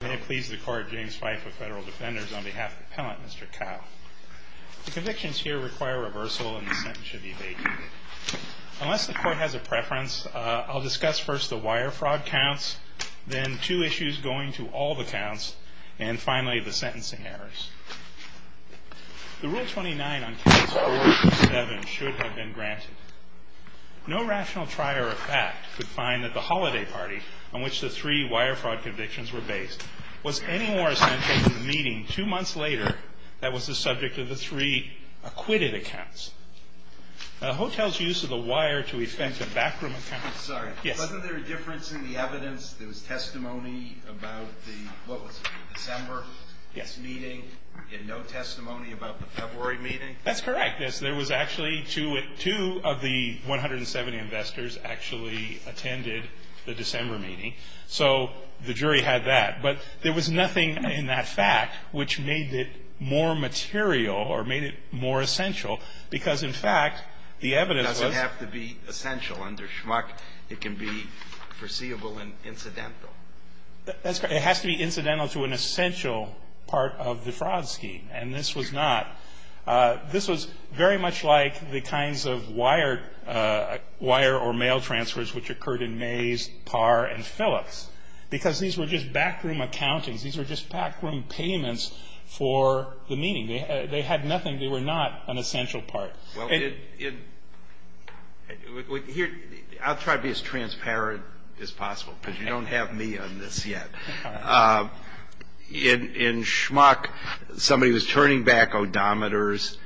May it please the court, James Fife of Federal Defenders, on behalf of the appellant, Mr. Cao. The convictions here require reversal and the sentence should be abated. Unless the court has a preference, I'll discuss first the wire fraud counts, then two issues going to all the counts, and finally the sentencing errors. The Rule 29 on Case 427 should have been granted. No rational trier of fact could find that the holiday party on which the three wire fraud convictions were based was any more essential to the meeting two months later that was the subject of the three acquitted accounts. The hotel's use of the wire to offend the backroom account... Sorry, wasn't there a difference in the evidence? There was testimony about the, what was it, December? Yes. This meeting, and no testimony about the February meeting? That's correct. There was actually two of the 170 investors actually attended the December meeting. So the jury had that. But there was nothing in that fact which made it more material or made it more essential. Because, in fact, the evidence was... It doesn't have to be essential under Schmuck. It can be foreseeable and incidental. That's correct. It has to be incidental to an essential part of the fraud scheme. And this was not. This was very much like the kinds of wire or mail transfers which occurred in Mays, Parr, and Phillips. Because these were just backroom accountings. These were just backroom payments for the meeting. They had nothing. They were not an essential part. Well, in... I'll try to be as transparent as possible, because you don't have me on this yet. In Schmuck, somebody was turning back odometers,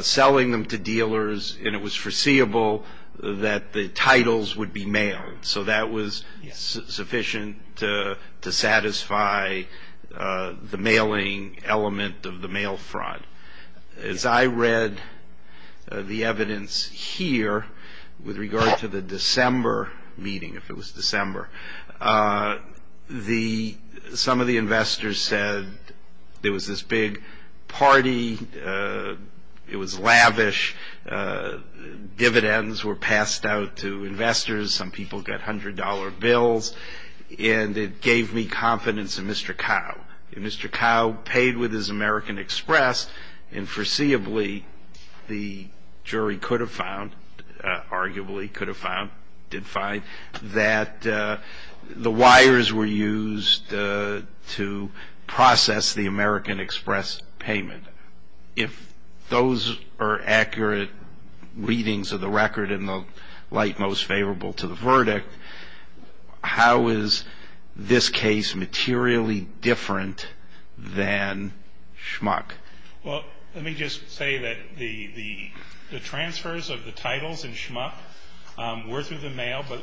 selling them to dealers, and it was foreseeable that the titles would be mailed. So that was sufficient to satisfy the mailing element of the mail fraud. As I read the evidence here with regard to the December meeting, if it was December, some of the investors said there was this big party. It was lavish. Dividends were passed out to investors. Some people got $100 bills. And it gave me confidence in Mr. Cowe. Mr. Cowe paid with his American Express, and foreseeably the jury could have found, arguably could have found, did find, that the wires were used to process the American Express payment. If those are accurate readings of the record in the light most favorable to the verdict, how is this case materially different than Schmuck? Well, let me just say that the transfers of the titles in Schmuck were through the mail. But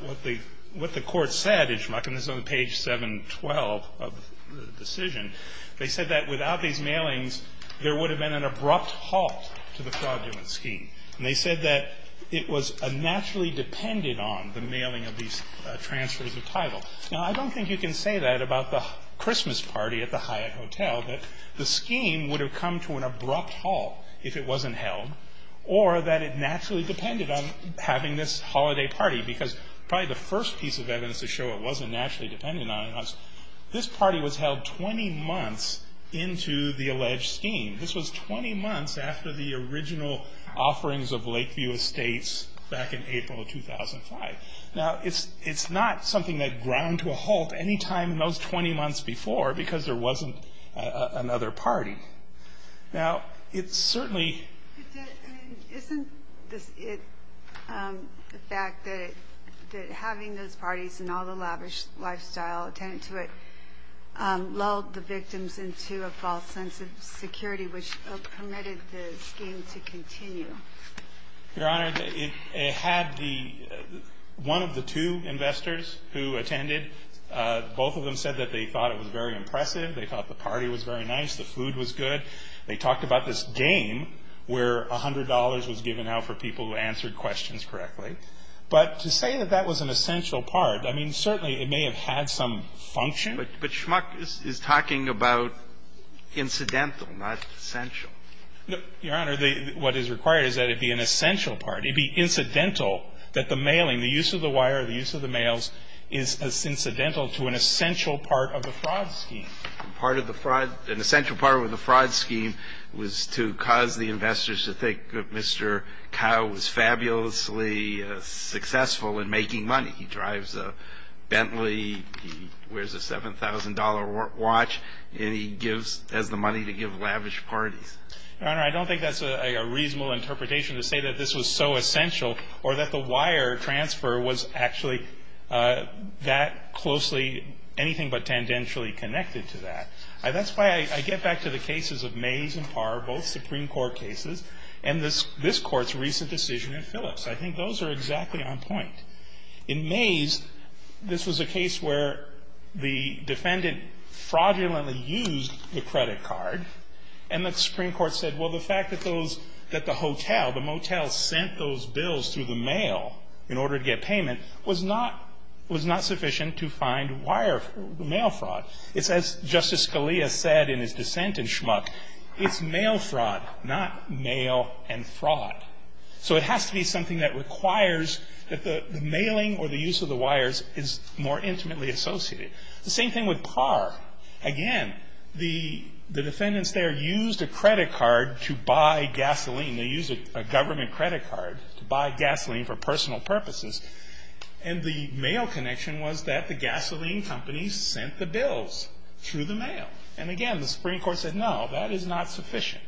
what the court said in Schmuck, and this is on page 712 of the decision, they said that without these mailings, there would have been an abrupt halt to the fraudulent scheme. And they said that it was naturally dependent on the mailing of these transfers of title. Now, I don't think you can say that about the Christmas party at the Hyatt Hotel, that the scheme would have come to an abrupt halt if it wasn't held, or that it naturally depended on having this holiday party. Because probably the first piece of evidence to show it wasn't naturally dependent on us, this party was held 20 months into the alleged scheme. This was 20 months after the original offerings of Lakeview Estates back in April of 2005. Now, it's not something that ground to a halt any time in those 20 months before, because there wasn't another party. Now, it certainly... Isn't it the fact that having those parties and all the lavish lifestyle attended to it lulled the victims into a false sense of security, which permitted the scheme to continue? Your Honor, it had one of the two investors who attended. Both of them said that they thought it was very impressive. They thought the party was very nice, the food was good. They talked about this game where $100 was given out for people who answered questions correctly. But to say that that was an essential part, I mean, certainly it may have had some function. But Schmuck is talking about incidental, not essential. Your Honor, what is required is that it be an essential part. It be incidental that the mailing, the use of the wire, the use of the mails is incidental to an essential part of the fraud scheme. An essential part of the fraud scheme was to cause the investors to think that Mr. Cowe was fabulously successful in making money. He drives a Bentley. He wears a $7,000 watch. And he has the money to give lavish parties. Your Honor, I don't think that's a reasonable interpretation to say that this was so essential or that the wire transfer was actually that closely anything but tendentially connected to that. That's why I get back to the cases of Mays and Parr, both Supreme Court cases, and this Court's recent decision in Phillips. I think those are exactly on point. In Mays, this was a case where the defendant fraudulently used the credit card and then the Supreme Court said, well, the fact that those, that the hotel, the motel sent those bills through the mail in order to get payment was not sufficient to find wire mail fraud. It's as Justice Scalia said in his dissent in Schmuck, it's mail fraud, not mail and fraud. So it has to be something that requires that the mailing or the use of the wires is more intimately associated. The same thing with Parr. Again, the defendants there used a credit card to buy gasoline. They used a government credit card to buy gasoline for personal purposes. And the mail connection was that the gasoline companies sent the bills through the mail. And again, the Supreme Court said, no, that is not sufficient.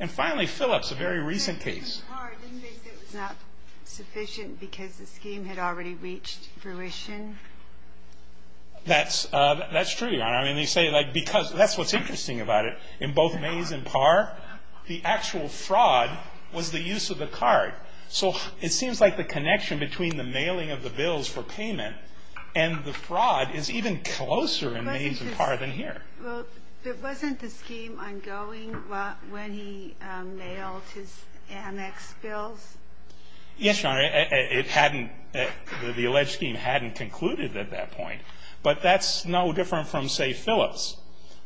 And finally, Phillips, a very recent case. The case of Parr, didn't they say it was not sufficient because the scheme had already reached fruition? That's true, Your Honor. I mean, they say, like, because that's what's interesting about it. In both Mays and Parr, the actual fraud was the use of the card. So it seems like the connection between the mailing of the bills for payment and the fraud is even closer in Mays and Parr than here. Well, but wasn't the scheme ongoing when he mailed his annex bills? Yes, Your Honor. It hadn't, the alleged scheme hadn't concluded at that point. But that's no different from, say, Phillips,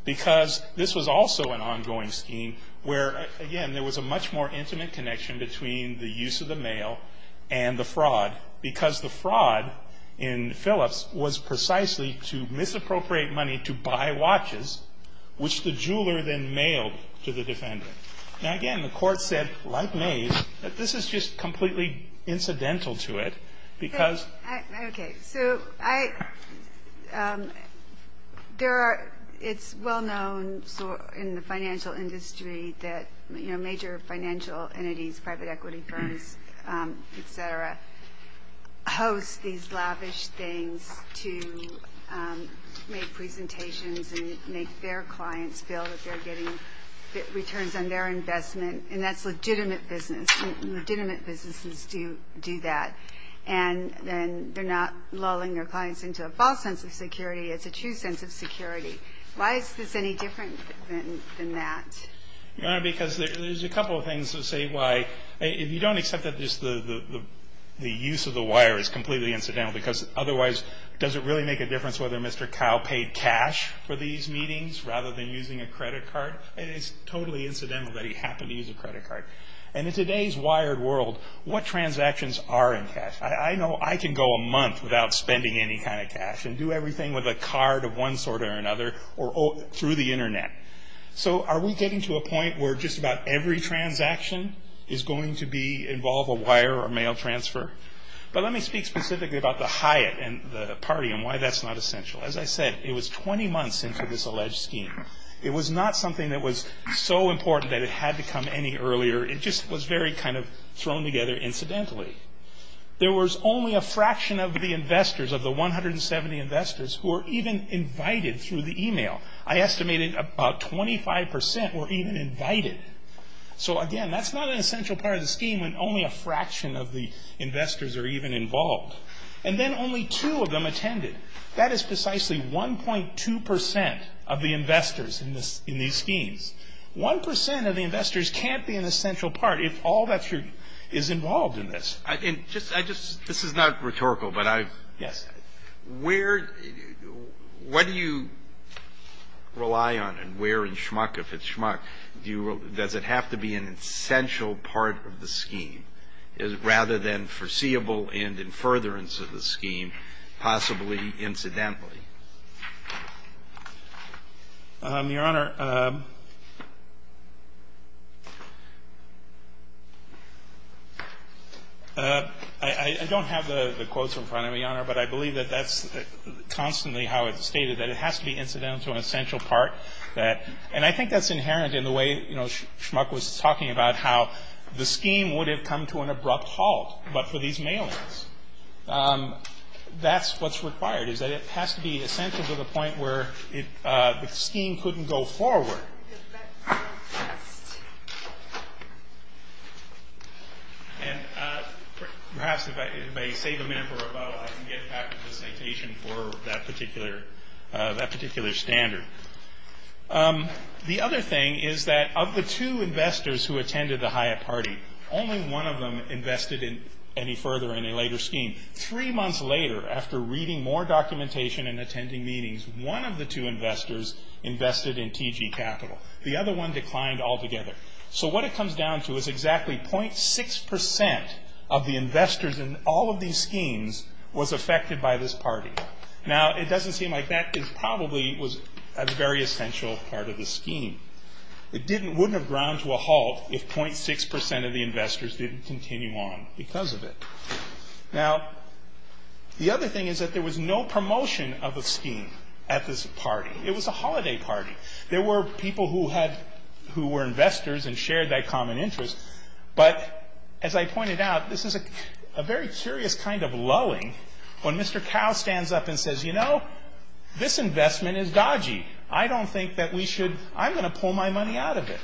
because this was also an ongoing scheme where, again, there was a much more intimate connection between the use of the mail and the fraud, because the fraud in Phillips was precisely to misappropriate money to buy watches, which the jeweler then mailed to the defendant. Now, again, the court said, like Mays, that this is just completely incidental to it, because. Okay. So I, there are, it's well known in the financial industry that, you know, major financial entities, private equity firms, et cetera, host these lavish things to make presentations and make their clients feel that they're getting returns on their investment, and that's legitimate business. Legitimate businesses do that. And then they're not lulling their clients into a false sense of security. It's a true sense of security. Why is this any different than that? Your Honor, because there's a couple of things to say why. If you don't accept that just the use of the wire is completely incidental, because otherwise does it really make a difference whether Mr. And it's totally incidental that he happened to use a credit card. And in today's wired world, what transactions are in cash? I know I can go a month without spending any kind of cash and do everything with a card of one sort or another through the Internet. So are we getting to a point where just about every transaction is going to be, involve a wire or mail transfer? But let me speak specifically about the Hyatt party and why that's not essential. As I said, it was 20 months into this alleged scheme. It was not something that was so important that it had to come any earlier. It just was very kind of thrown together incidentally. There was only a fraction of the investors, of the 170 investors, who were even invited through the email. I estimated about 25% were even invited. So again, that's not an essential part of the scheme when only a fraction of the investors are even involved. And then only two of them attended. That is precisely 1.2% of the investors in these schemes. One percent of the investors can't be an essential part if all that is involved in this. And just, I just, this is not rhetorical, but I've. Yes. Where, what do you rely on and where in schmuck, if it's schmuck, does it have to be an essential part of the scheme rather than foreseeable and in furtherance of the scheme, possibly incidentally? Your Honor, I don't have the quotes in front of me, Your Honor, but I believe that that's constantly how it's stated, that it has to be incidental to an essential part. And I think that's inherent in the way, you know, schmuck was talking about how the scheme would have come to an abrupt halt, but for these mailings. That's what's required, is that it has to be essential to the point where the scheme couldn't go forward. And perhaps if I save a minute or two, I can get back to the citation for that particular standard. The other thing is that of the two investors who attended the HIA party, only one of them invested any further in a later scheme. Three months later, after reading more documentation and attending meetings, one of the two investors invested in TG Capital. The other one declined altogether. So what it comes down to is exactly 0.6% of the investors in all of these schemes was affected by this party. Now, it doesn't seem like that probably was a very essential part of the scheme. It wouldn't have gone to a halt if 0.6% of the investors didn't continue on because of it. Now, the other thing is that there was no promotion of a scheme at this party. It was a holiday party. There were people who were investors and shared that common interest. But as I pointed out, this is a very curious kind of lulling when Mr. Cow stands up and says, you know, this investment is dodgy. I don't think that we should – I'm going to pull my money out of it.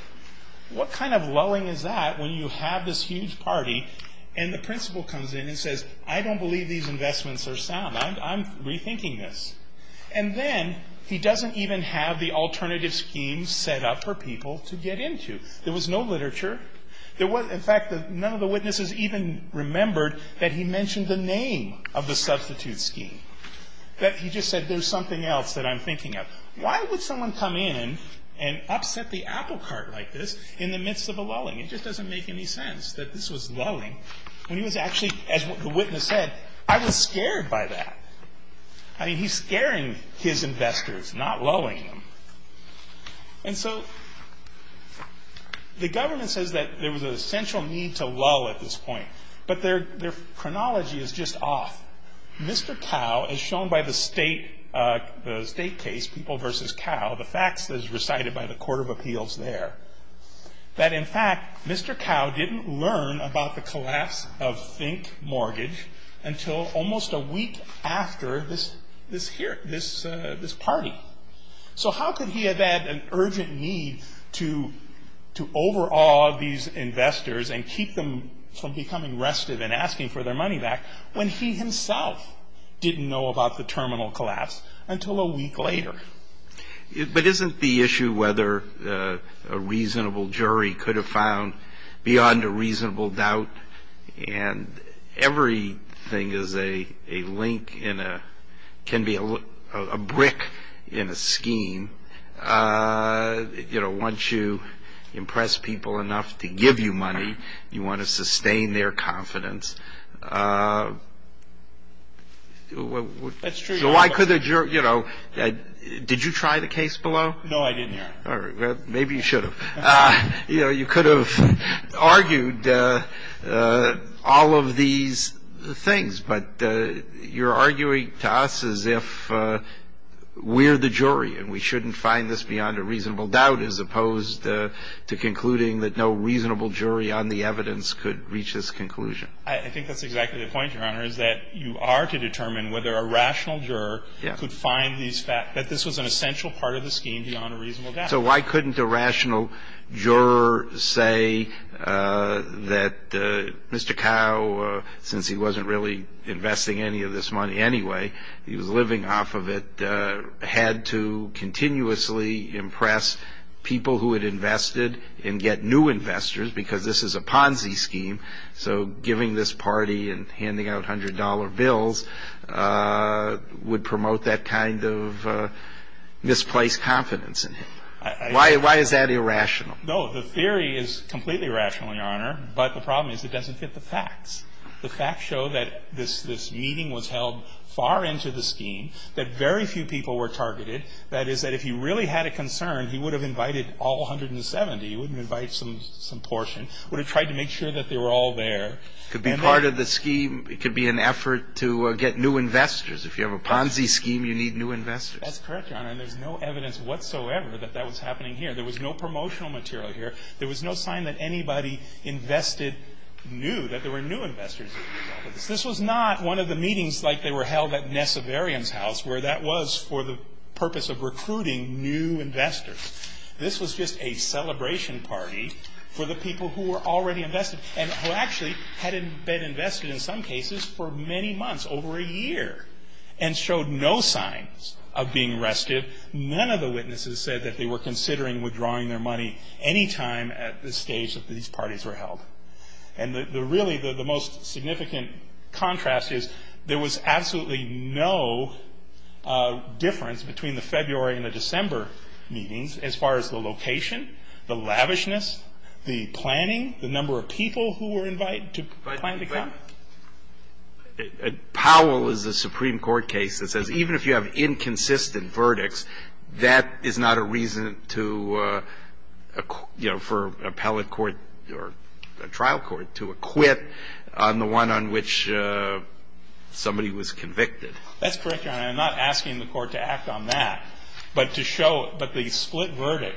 What kind of lulling is that when you have this huge party, and the principal comes in and says, I don't believe these investments are sound. I'm rethinking this. And then he doesn't even have the alternative scheme set up for people to get into. There was no literature. There was – in fact, none of the witnesses even remembered that he mentioned the name of the substitute scheme, that he just said there's something else that I'm thinking of. Why would someone come in and upset the apple cart like this in the midst of a lulling? It just doesn't make any sense that this was lulling when he was actually – as the witness said, I was scared by that. I mean, he's scaring his investors, not lulling them. And so the government says that there was an essential need to lull at this point, but their chronology is just off. Mr. Cowe, as shown by the state case, People v. Cowe, the facts as recited by the Court of Appeals there, that in fact Mr. Cowe didn't learn about the collapse of Fink Mortgage until almost a week after this party. So how could he have had an urgent need to overawe these investors and keep them from becoming rested and asking for their money back when he himself didn't know about the terminal collapse until a week later? But isn't the issue whether a reasonable jury could have found beyond a reasonable doubt and everything is a link in a – can be a brick in a scheme. You know, once you impress people enough to give you money, you want to sustain their confidence. That's true. So why could the jury – you know, did you try the case below? No, I didn't. Maybe you should have. You know, you could have argued all of these things, but you're arguing to us as if we're the jury and we shouldn't find this beyond a reasonable doubt as opposed to concluding that no reasonable jury on the evidence could reach this conclusion. I think that's exactly the point, Your Honor, is that you are to determine whether a rational juror could find these – that this was an essential part of the scheme beyond a reasonable doubt. So why couldn't a rational juror say that Mr. Cowe, since he wasn't really investing any of this money anyway, he was living off of it, had to continuously impress people who had invested and get new investors because this is a Ponzi scheme, so giving this party and handing out hundred-dollar bills would promote that kind of misplaced confidence in him. Why is that irrational? No, the theory is completely irrational, Your Honor, but the problem is it doesn't fit the facts. The facts show that this meeting was held far into the scheme, that very few people were targeted. That is, that if he really had a concern, he would have invited all 170. He wouldn't invite some portion. He would have tried to make sure that they were all there. It could be part of the scheme. It could be an effort to get new investors. If you have a Ponzi scheme, you need new investors. That's correct, Your Honor, and there's no evidence whatsoever that that was happening here. There was no promotional material here. There was no sign that anybody invested new, that there were new investors involved with this. This was not one of the meetings like they were held at Nesseverian's house where that was for the purpose of recruiting new investors. This was just a celebration party for the people who were already invested and who actually had been invested in some cases for many months, over a year, and showed no signs of being restive. None of the witnesses said that they were considering withdrawing their money any time at this stage that these parties were held. And really the most significant contrast is there was absolutely no difference between the February and the December meetings as far as the location, the lavishness, the planning, the number of people who were invited to plan to come. Powell is a Supreme Court case that says even if you have inconsistent verdicts, that is not a reason to, you know, for appellate court or trial court to acquit on the one on which somebody was convicted. That's correct, Your Honor. And I'm not asking the court to act on that, but to show, but the split verdict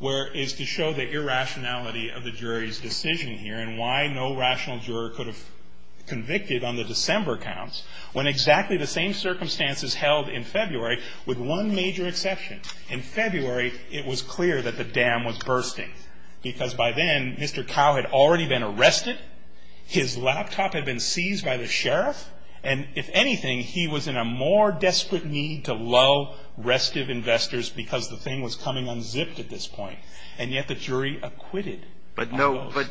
is to show the irrationality of the jury's decision here and why no rational juror could have convicted on the December counts when exactly the same circumstances held in February with one major exception. In February, it was clear that the dam was bursting because by then, Mr. Cowe had already been arrested, his laptop had been seized by the sheriff, and if anything, he was in a more desperate need to lull restive investors because the thing was coming unzipped at this point. And yet the jury acquitted. But no, but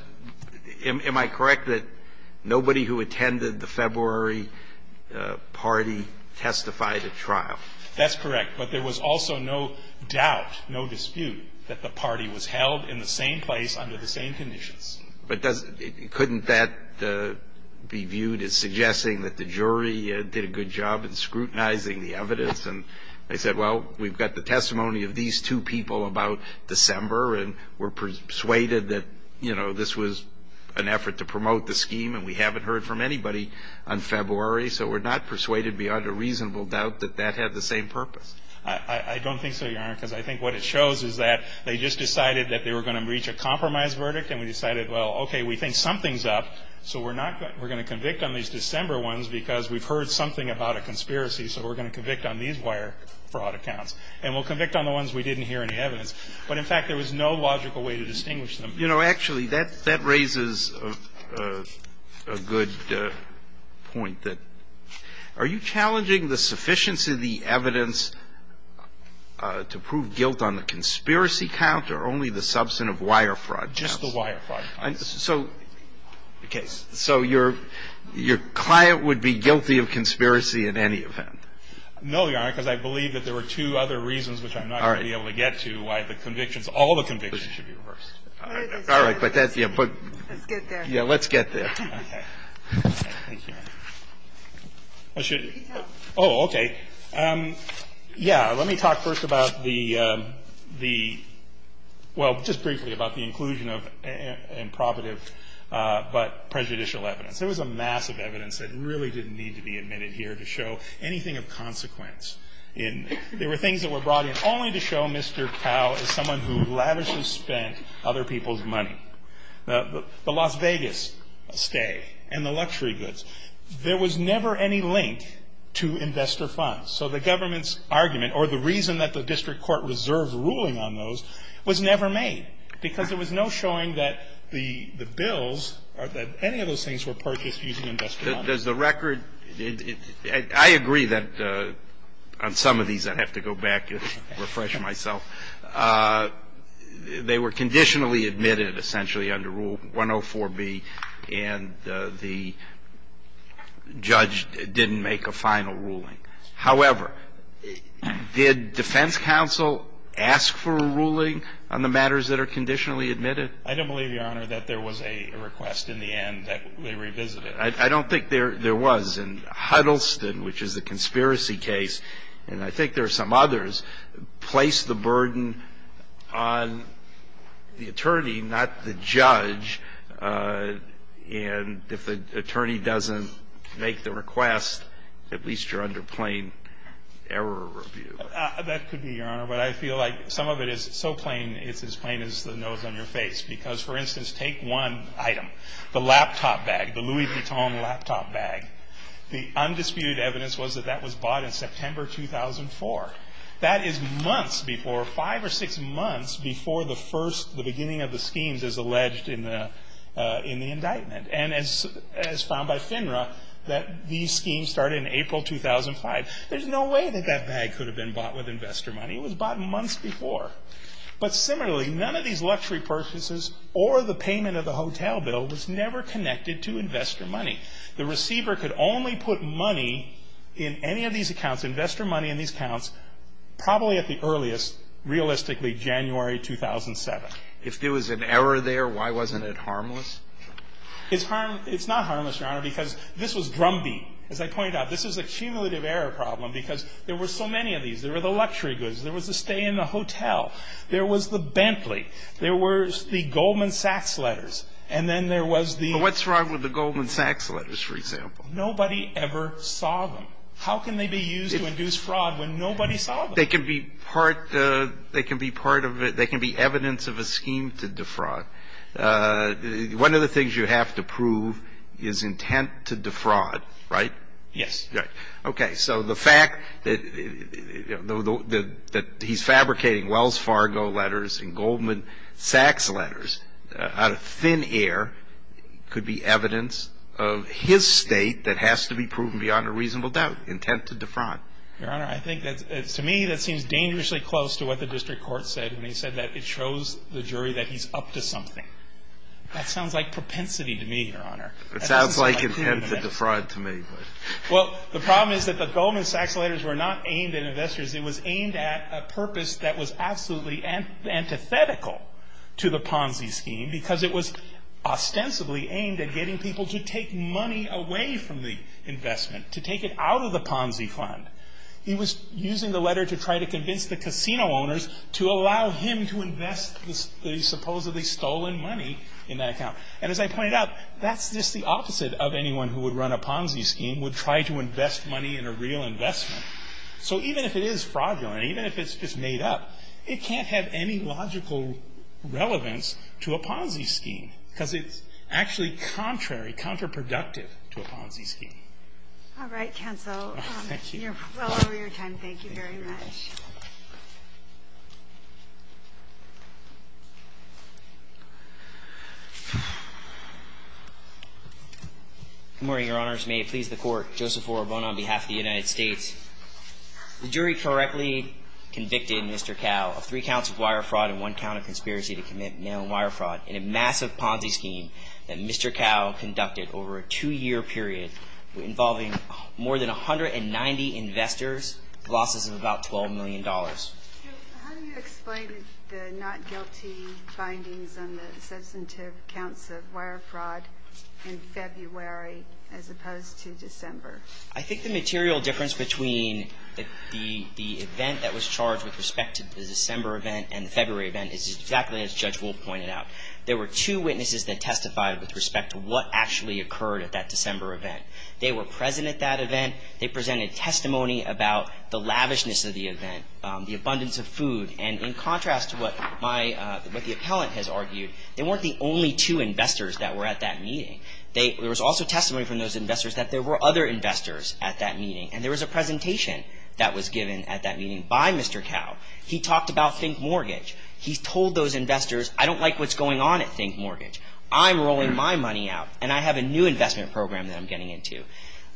am I correct that nobody who attended the February party testified at trial? That's correct. But there was also no doubt, no dispute that the party was held in the same place under the same conditions. But couldn't that be viewed as suggesting that the jury did a good job in scrutinizing the evidence? And they said, well, we've got the testimony of these two people about December and we're persuaded that, you know, this was an effort to promote the scheme and we haven't heard from anybody on February, so we're not persuaded beyond a reasonable doubt that that had the same purpose. I don't think so, Your Honor, because I think what it shows is that they just decided that they were going to reach a compromise verdict and we decided, well, okay, we think something's up, so we're going to convict on these December ones because we've heard something about a conspiracy, so we're going to convict on these wire fraud accounts. And we'll convict on the ones we didn't hear any evidence. But, in fact, there was no logical way to distinguish them. You know, actually, that raises a good point that are you challenging the sufficiency of the evidence to prove guilt on the conspiracy count or only the substantive wire fraud counts? Just the wire fraud counts. Okay. So your client would be guilty of conspiracy in any event? No, Your Honor, because I believe that there were two other reasons which I'm not going to be able to get to why the convictions, all the convictions should be reversed. All right. Let's get there. Yeah, let's get there. Okay. Thank you. Oh, okay. Yeah, let me talk first about the, well, just briefly about the inclusion of improbative but prejudicial evidence. There was a mass of evidence that really didn't need to be admitted here to show anything of consequence. There were things that were brought in only to show Mr. Powell as someone who lavishly spent other people's money. The Las Vegas stay and the luxury goods, there was never any link to investor funds. So the government's argument or the reason that the district court reserved a ruling on those was never made because there was no showing that the bills or that any of those things were purchased using investor funds. Does the record, I agree that on some of these I'd have to go back and refresh myself. They were conditionally admitted essentially under Rule 104B and the judge didn't make a final ruling. However, did defense counsel ask for a ruling on the matters that are conditionally admitted? I don't believe, Your Honor, that there was a request in the end that they revisited. I don't think there was. And Huddleston, which is a conspiracy case, and I think there are some others, placed the burden on the attorney, not the judge. And if the attorney doesn't make the request, at least you're under plain error review. That could be, Your Honor. But I feel like some of it is so plain it's as plain as the nose on your face. Because, for instance, take one item, the laptop bag, the Louis Vuitton laptop bag. The undisputed evidence was that that was bought in September 2004. That is months before, five or six months before the first, the beginning of the indictment. And as found by FINRA, that these schemes started in April 2005. There's no way that that bag could have been bought with investor money. It was bought months before. But similarly, none of these luxury purchases or the payment of the hotel bill was never connected to investor money. The receiver could only put money in any of these accounts, investor money in these accounts, probably at the earliest, realistically, January 2007. If there was an error there, why wasn't it harmless? It's harmless. It's not harmless, Your Honor, because this was drumbeat. As I pointed out, this was a cumulative error problem because there were so many of these. There were the luxury goods. There was the stay in the hotel. There was the Bentley. There was the Goldman Sachs letters. And then there was the ---- But what's wrong with the Goldman Sachs letters, for example? Nobody ever saw them. How can they be used to induce fraud when nobody saw them? They can be part of it. They can be evidence of a scheme to defraud. One of the things you have to prove is intent to defraud, right? Yes. Okay. So the fact that he's fabricating Wells Fargo letters and Goldman Sachs letters out of thin air could be evidence of his state that has to be proven beyond a reasonable doubt, intent to defraud. Your Honor, I think that to me that seems dangerously close to what the district court said when he said that it shows the jury that he's up to something. That sounds like propensity to me, Your Honor. It sounds like intent to defraud to me. Well, the problem is that the Goldman Sachs letters were not aimed at investors. It was aimed at a purpose that was absolutely antithetical to the Ponzi scheme because it was ostensibly aimed at getting people to take money away from the Ponzi fund. He was using the letter to try to convince the casino owners to allow him to invest the supposedly stolen money in that account. And as I pointed out, that's just the opposite of anyone who would run a Ponzi scheme, would try to invest money in a real investment. So even if it is fraudulent, even if it's just made up, it can't have any logical relevance to a Ponzi scheme because it's actually contrary, counterproductive to a Ponzi scheme. All right, counsel. Thank you. You're well over your time. Thank you very much. Good morning, Your Honors. May it please the Court. Joseph Orobon on behalf of the United States. The jury correctly convicted Mr. Cao of three counts of wire fraud and one count of conspiracy to commit mail-in wire fraud in a massive Ponzi scheme that Mr. involving more than 190 investors, losses of about $12 million. How do you explain the not-guilty findings on the substantive counts of wire fraud in February as opposed to December? I think the material difference between the event that was charged with respect to the December event and the February event is exactly as Judge Wolf pointed out. There were two witnesses that testified with respect to what actually occurred at that December event. They were present at that event. They presented testimony about the lavishness of the event, the abundance of food. And in contrast to what the appellant has argued, they weren't the only two investors that were at that meeting. There was also testimony from those investors that there were other investors at that meeting. And there was a presentation that was given at that meeting by Mr. Cao. He talked about Think Mortgage. He told those investors, I don't like what's going on at Think Mortgage. I'm rolling my money out and I have a new investment program that I'm getting into.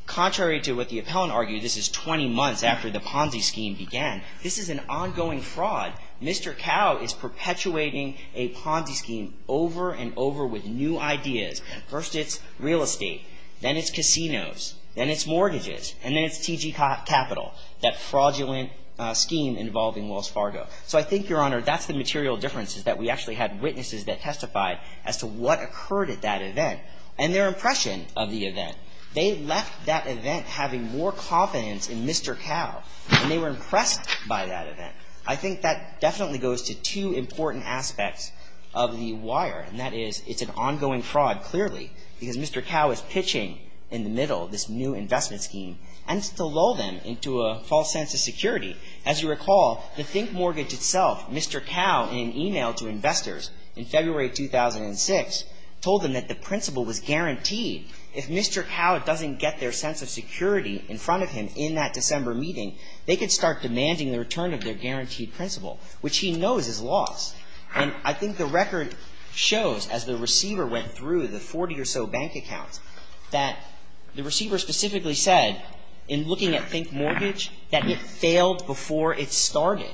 Contrary to what the appellant argued, this is 20 months after the Ponzi scheme began. This is an ongoing fraud. Mr. Cao is perpetuating a Ponzi scheme over and over with new ideas. First it's real estate. Then it's casinos. Then it's mortgages. And then it's TG Capital, that fraudulent scheme involving Wells Fargo. So I think, Your Honor, that's the material difference is that we actually had witnesses that testified as to what occurred at that event and their impression of the event. They left that event having more confidence in Mr. Cao. And they were impressed by that event. I think that definitely goes to two important aspects of the wire, and that is it's an ongoing fraud, clearly, because Mr. Cao is pitching in the middle of this new investment scheme. And it's to lull them into a false sense of security. As you recall, the Think Mortgage itself, Mr. Cao, in an email to investors in February 2006, told them that the principal was guaranteed. If Mr. Cao doesn't get their sense of security in front of him in that December meeting, they could start demanding the return of their guaranteed principal, which he knows is loss. And I think the record shows, as the receiver went through the 40 or so bank accounts, that the receiver specifically said, in looking at Think Mortgage, that it failed before it started.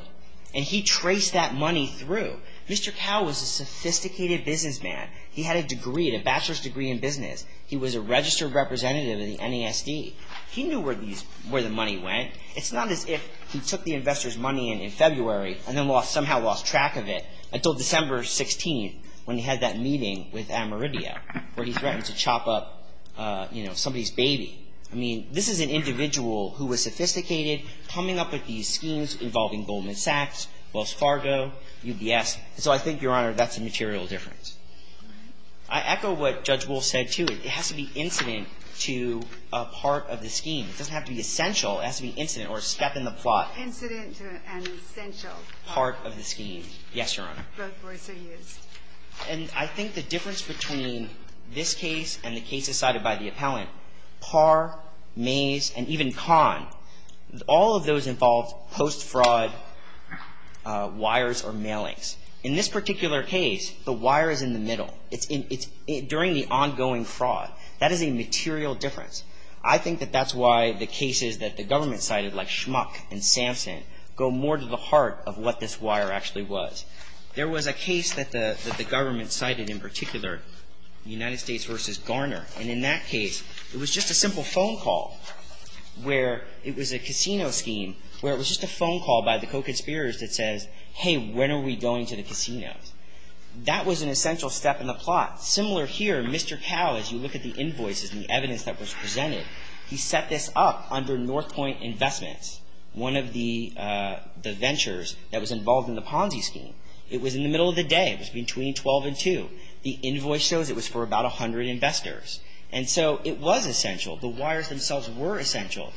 And he traced that money through. Mr. Cao was a sophisticated businessman. He had a degree, a bachelor's degree in business. He was a registered representative in the NASD. He knew where the money went. It's not as if he took the investors' money in February and then somehow lost track of it until December 16th, when he had that meeting with Ameridio, where he threatened to chop up somebody's baby. I mean, this is an individual who was sophisticated, coming up with these schemes involving Goldman Sachs, Wells Fargo, UBS. So I think, Your Honor, that's a material difference. I echo what Judge Woolf said, too. It has to be incident to a part of the scheme. It doesn't have to be essential. It has to be incident or a step in the plot. Incident to an essential part. Part of the scheme. Yes, Your Honor. Both words are used. And I think the difference between this case and the case decided by the appellant Par, Mays, and even Kahn, all of those involved post-fraud wires or mailings. In this particular case, the wire is in the middle. It's during the ongoing fraud. That is a material difference. I think that that's why the cases that the government cited, like Schmuck and Samson, go more to the heart of what this wire actually was. There was a case that the government cited in particular, United States v. Garner. And in that case, it was just a simple phone call where it was a casino scheme, where it was just a phone call by the co-conspirators that says, hey, when are we going to the casinos? That was an essential step in the plot. Similar here, Mr. Cowell, as you look at the invoices and the evidence that was presented, he set this up under Northpoint Investments, one of the ventures that was involved in the Ponzi scheme. It was in the middle of the day. It was between 12 and 2. The invoice shows it was for about 100 investors. And so it was essential. The wires themselves were essential,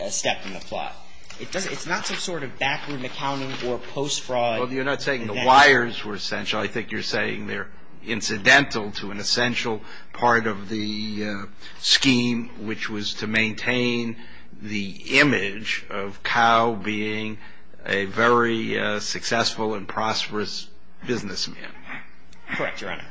a step in the plot. It's not some sort of backroom accounting or post-fraud. Well, you're not saying the wires were essential. I think you're saying they're incidental to an essential part of the scheme, which was to maintain the image of Cowell being a very successful and prosperous businessman. Correct, Your Honor.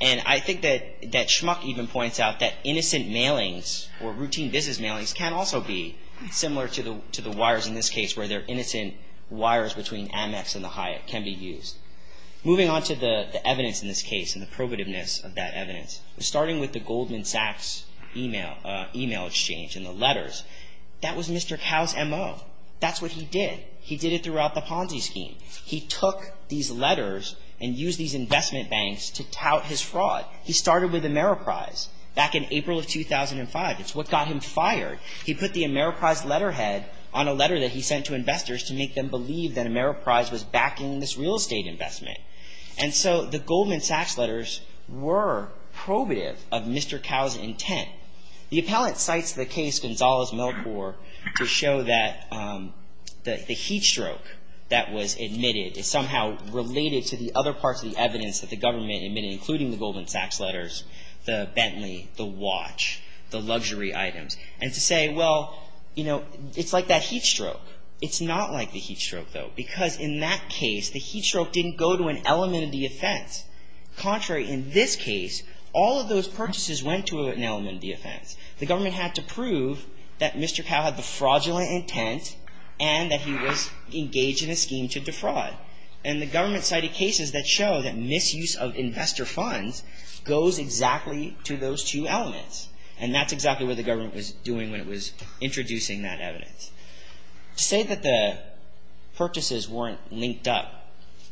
And I think that Schmuck even points out that innocent mailings or routine business mailings can also be similar to the wires in this case, where they're innocent wires between Amex and the Hyatt can be used. Moving on to the evidence in this case and the probativeness of that evidence, starting with the Goldman Sachs email exchange and the letters, that was Mr. Cowell's M.O. That's what he did. He did it throughout the Ponzi scheme. He took these letters and used these investment banks to tout his fraud. He started with Ameriprise back in April of 2005. It's what got him fired. He put the Ameriprise letterhead on a letter that he sent to investors to make them believe that Ameriprise was backing this real estate investment. And so the Goldman Sachs letters were probative of Mr. Cowell's intent. The appellate cites the case Gonzalez-Milkor to show that the heat stroke that was admitted is somehow related to the other parts of the evidence that the government admitted, including the Goldman Sachs letters, the Bentley, the watch, the luxury items, and to say, well, you know, it's like that heat stroke. It's not like the heat stroke, though, because in that case, the heat stroke didn't go to an element of the offense. Contrary, in this case, all of those purchases went to an element of the offense. The government had to prove that Mr. Cowell had the fraudulent intent and that he was engaged in a scheme to defraud. And the government cited cases that show that misuse of investor funds goes exactly to those two elements, and that's exactly what the government was doing when it was introducing that evidence. To say that the purchases weren't linked up,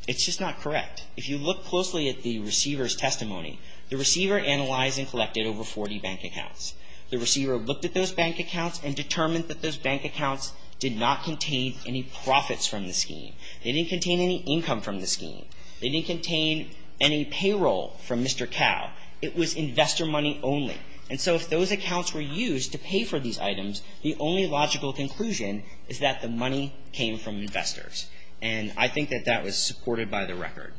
it's just not correct. If you look closely at the receiver's testimony, the receiver analyzed and collected over 40 bank accounts. The receiver looked at those bank accounts and determined that those bank accounts did not contain any profits from the scheme. They didn't contain any income from the scheme. They didn't contain any payroll from Mr. Cowell. It was investor money only. And so if those accounts were used to pay for these items, the only logical conclusion is that the money came from investors. And I think that that was supported by the record.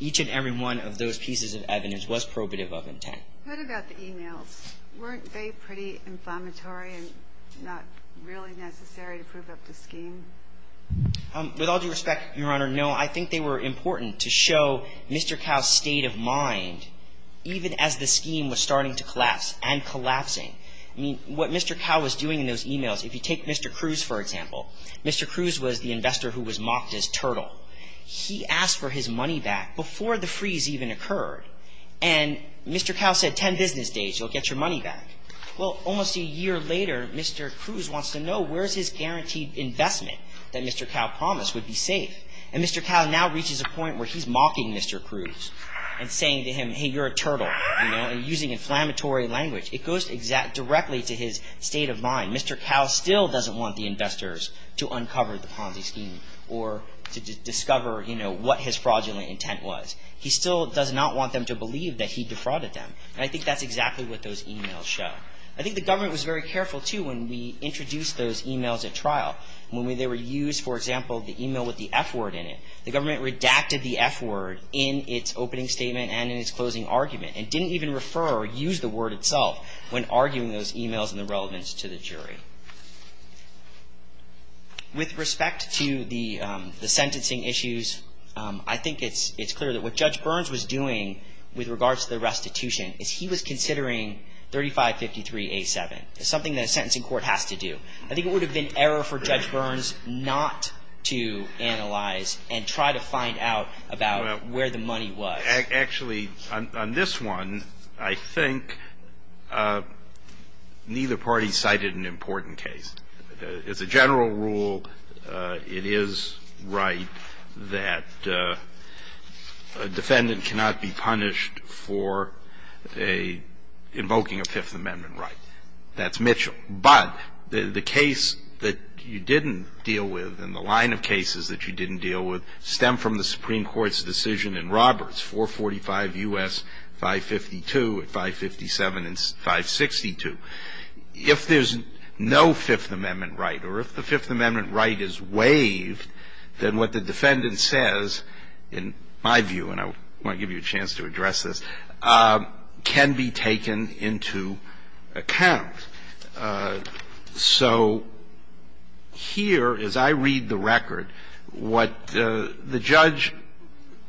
Each and every one of those pieces of evidence was probative of intent. What about the e-mails? Weren't they pretty inflammatory and not really necessary to prove up the scheme? With all due respect, Your Honor, no. I think they were important to show Mr. Cowell's state of mind even as the scheme was starting to collapse and collapsing. I mean, what Mr. Cowell was doing in those e-mails, if you take Mr. Cruz, for example, Mr. Cruz was the investor who was mocked as turtle. He asked for his money back before the freeze even occurred. And Mr. Cowell said, 10 business days, you'll get your money back. Well, almost a year later, Mr. Cruz wants to know, where's his guaranteed investment that Mr. Cowell promised would be safe? And Mr. Cowell now reaches a point where he's mocking Mr. Cruz and saying to him, hey, you're a turtle, you know, and using inflammatory language. It goes directly to his state of mind. Mr. Cowell still doesn't want the investors to uncover the Ponzi scheme or to discover, you know, what his fraudulent intent was. He still does not want them to believe that he defrauded them. And I think that's exactly what those e-mails show. I think the government was very careful, too, when we introduced those e-mails at trial. When they were used, for example, the e-mail with the F word in it, the government redacted the F word in its opening statement and in its closing argument and didn't even refer or use the word itself when arguing those e-mails and the relevance to the jury. With respect to the sentencing issues, I think it's clear that what Judge Burns was doing with regards to the restitution is he was considering 3553A7. It's something that a sentencing court has to do. I think it would have been error for Judge Burns not to analyze and try to find out about where the money was. Actually, on this one, I think neither party cited an important case. As a general rule, it is right that a defendant cannot be punished for invoking a Fifth Amendment right. That's Mitchell. But the case that you didn't deal with and the line of cases that you didn't deal with is 445 U.S. 552 and 557 and 562. If there's no Fifth Amendment right or if the Fifth Amendment right is waived, then what the defendant says, in my view, and I want to give you a chance to address this, can be taken into account. So here, as I read the record, what the judge,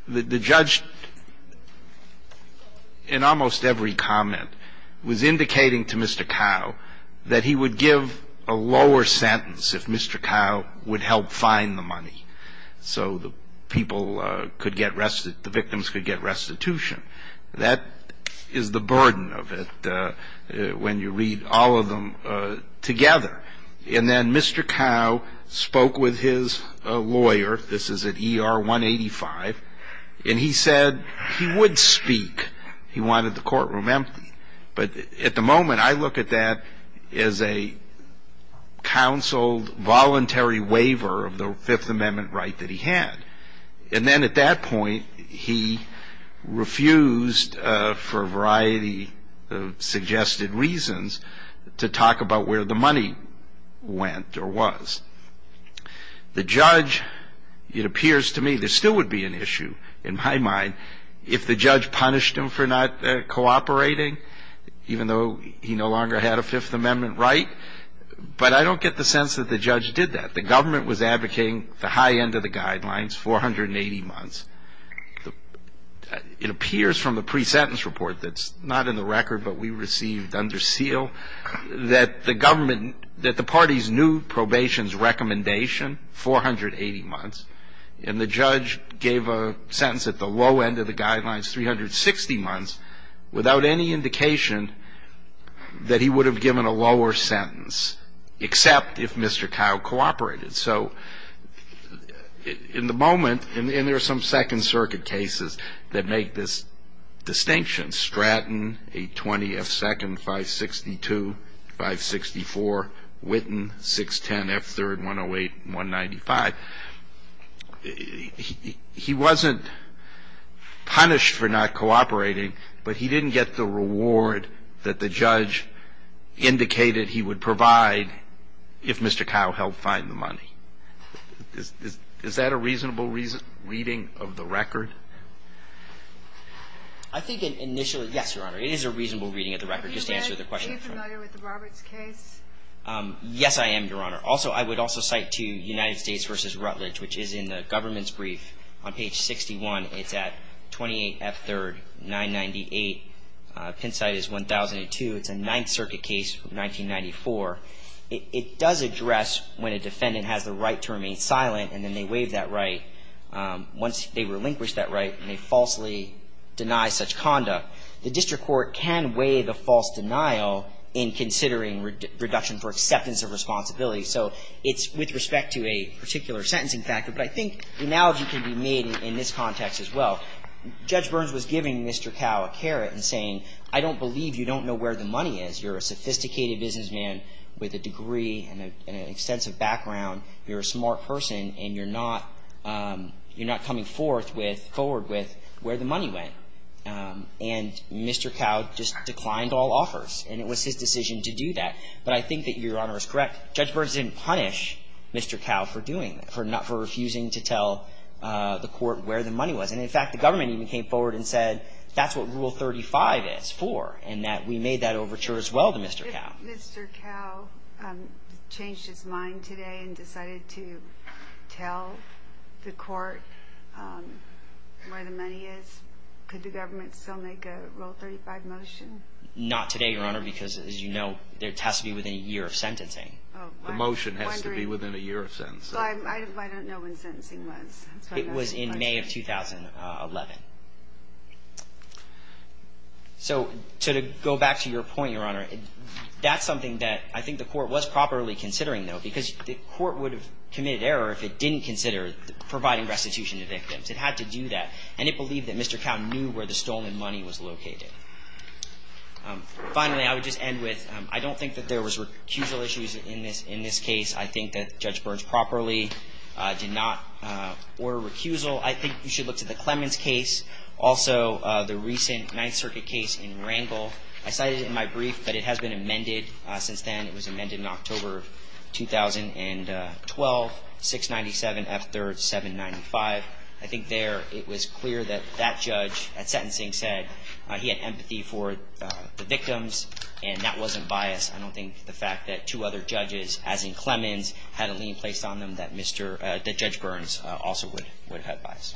the judge in almost every comment was indicating to Mr. Cowe that he would give a lower sentence if Mr. Cowe would help find the money so the people could get restitution, the victims could get restitution. That is the burden of it when you read all of them together. And then Mr. Cowe spoke with his lawyer. This is at ER 185. And he said he would speak. He wanted the courtroom empty. But at the moment, I look at that as a counseled, voluntary waiver of the Fifth Amendment right that he had. And then at that point, he refused, for a variety of suggested reasons, to talk about where the money went or was. The judge, it appears to me, there still would be an issue, in my mind, if the judge punished him for not cooperating, even though he no longer had a Fifth Amendment right. But I don't get the sense that the judge did that. The government was advocating the high end of the guidelines, 480 months. It appears from the pre-sentence report that's not in the record, but we received under seal, that the government, that the parties knew probation's recommendation, 480 months. And the judge gave a sentence at the low end of the guidelines, 360 months, without any indication that he would have given a lower sentence, except if Mr. Kyle cooperated. So in the moment, and there are some Second Circuit cases that make this distinction, Stratton, 820, F-2nd, 562, 564, Whitten, 610, F-3rd, 108, 195. He wasn't punished for not cooperating, but he didn't get the reward that the judge indicated he would provide if Mr. Kyle helped find the money. Is that a reasonable reading of the record? I think initially, yes, Your Honor. It is a reasonable reading of the record, just to answer the question. Are you familiar with the Roberts case? Yes, I am, Your Honor. Also, I would also cite to United States v. Rutledge, which is in the government's brief on page 61. It's at 28 F-3rd, 998. Pincite is 1002. It's a Ninth Circuit case from 1994. It does address when a defendant has the right to remain silent, and then they waive that right. Once they relinquish that right, they falsely deny such conduct. The district court can waive a false denial in considering reduction for acceptance of responsibility. So it's with respect to a particular sentencing factor, but I think the analogy can be made in this context as well. Judge Burns was giving Mr. Kyle a carrot and saying, I don't believe you don't know where the money is. You're a sophisticated businessman with a degree and an extensive background. You're a smart person, and you're not coming forward with where the money went. And Mr. Kyle just declined all offers, and it was his decision to do that. But I think that Your Honor is correct. Judge Burns didn't punish Mr. Kyle for doing that, for refusing to tell the court where the money was. And, in fact, the government even came forward and said, that's what Rule 35 is for, and that we made that overture as well to Mr. Kyle. Mr. Kyle changed his mind today and decided to tell the court where the money is. Could the government still make a Rule 35 motion? Not today, Your Honor, because, as you know, it has to be within a year of sentencing. The motion has to be within a year of sentencing. I don't know when sentencing was. It was in May of 2011. So to go back to your point, Your Honor, that's something that I think the court was properly considering, though, because the court would have committed error if it didn't consider providing restitution to victims. It had to do that. And it believed that Mr. Kyle knew where the stolen money was located. Finally, I would just end with, I don't think that there was recusal issues in this case. I think that Judge Burns properly did not order recusal. I think you should look to the Clemens case, also the recent Ninth Circuit case in Wrangell. I cited it in my brief, but it has been amended since then. It was amended in October of 2012, 697 F. 3rd, 795. I think there it was clear that that judge at sentencing said he had empathy for the victims, and that wasn't biased. I don't think the fact that two other judges, as in Clemens, had a lien placed on them that Judge Burns also would have biased.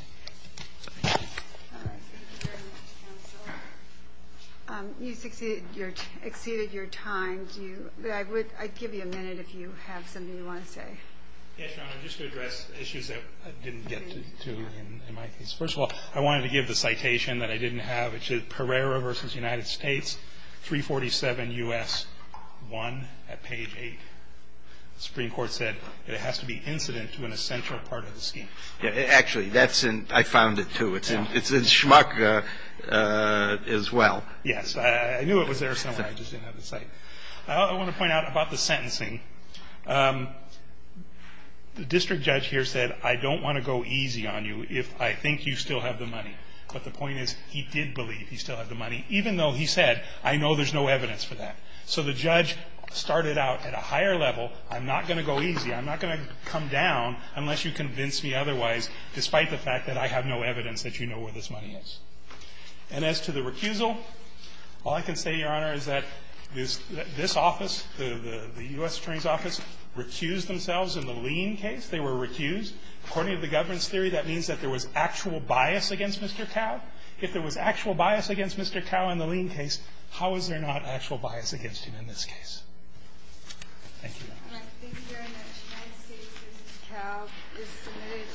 Thank you. All right. Thank you very much, counsel. You've exceeded your time. I'd give you a minute if you have something you want to say. Yes, Your Honor, just to address issues that I didn't get to in my case. I would just like to point out that the judgment that the district judge gave was the same as the one at page 8. The Supreme Court said it has to be incident to an essential part of the scheme. Actually, that's in – I found it too. It's in Schmuck as well. Yes. I knew it was there somewhere. I just didn't have the sight. I want to point out about the sentencing. The district judge here said, I don't want to go easy on you if I think you still have the money. But the point is he did believe he still had the money, even though he said, I know there's no evidence for that. So the judge started out at a higher level. I'm not going to go easy. I'm not going to come down unless you convince me otherwise, despite the fact that I have no evidence that you know where this money is. And as to the recusal, all I can say, Your Honor, is that this office, the U.S. Attorney's Office, recused themselves in the Lean case. They were recused. According to the governance theory, that means that there was actual bias against Mr. Cao. If there was actual bias against Mr. Cao in the Lean case, how is there not actual bias against him in this case? Thank you.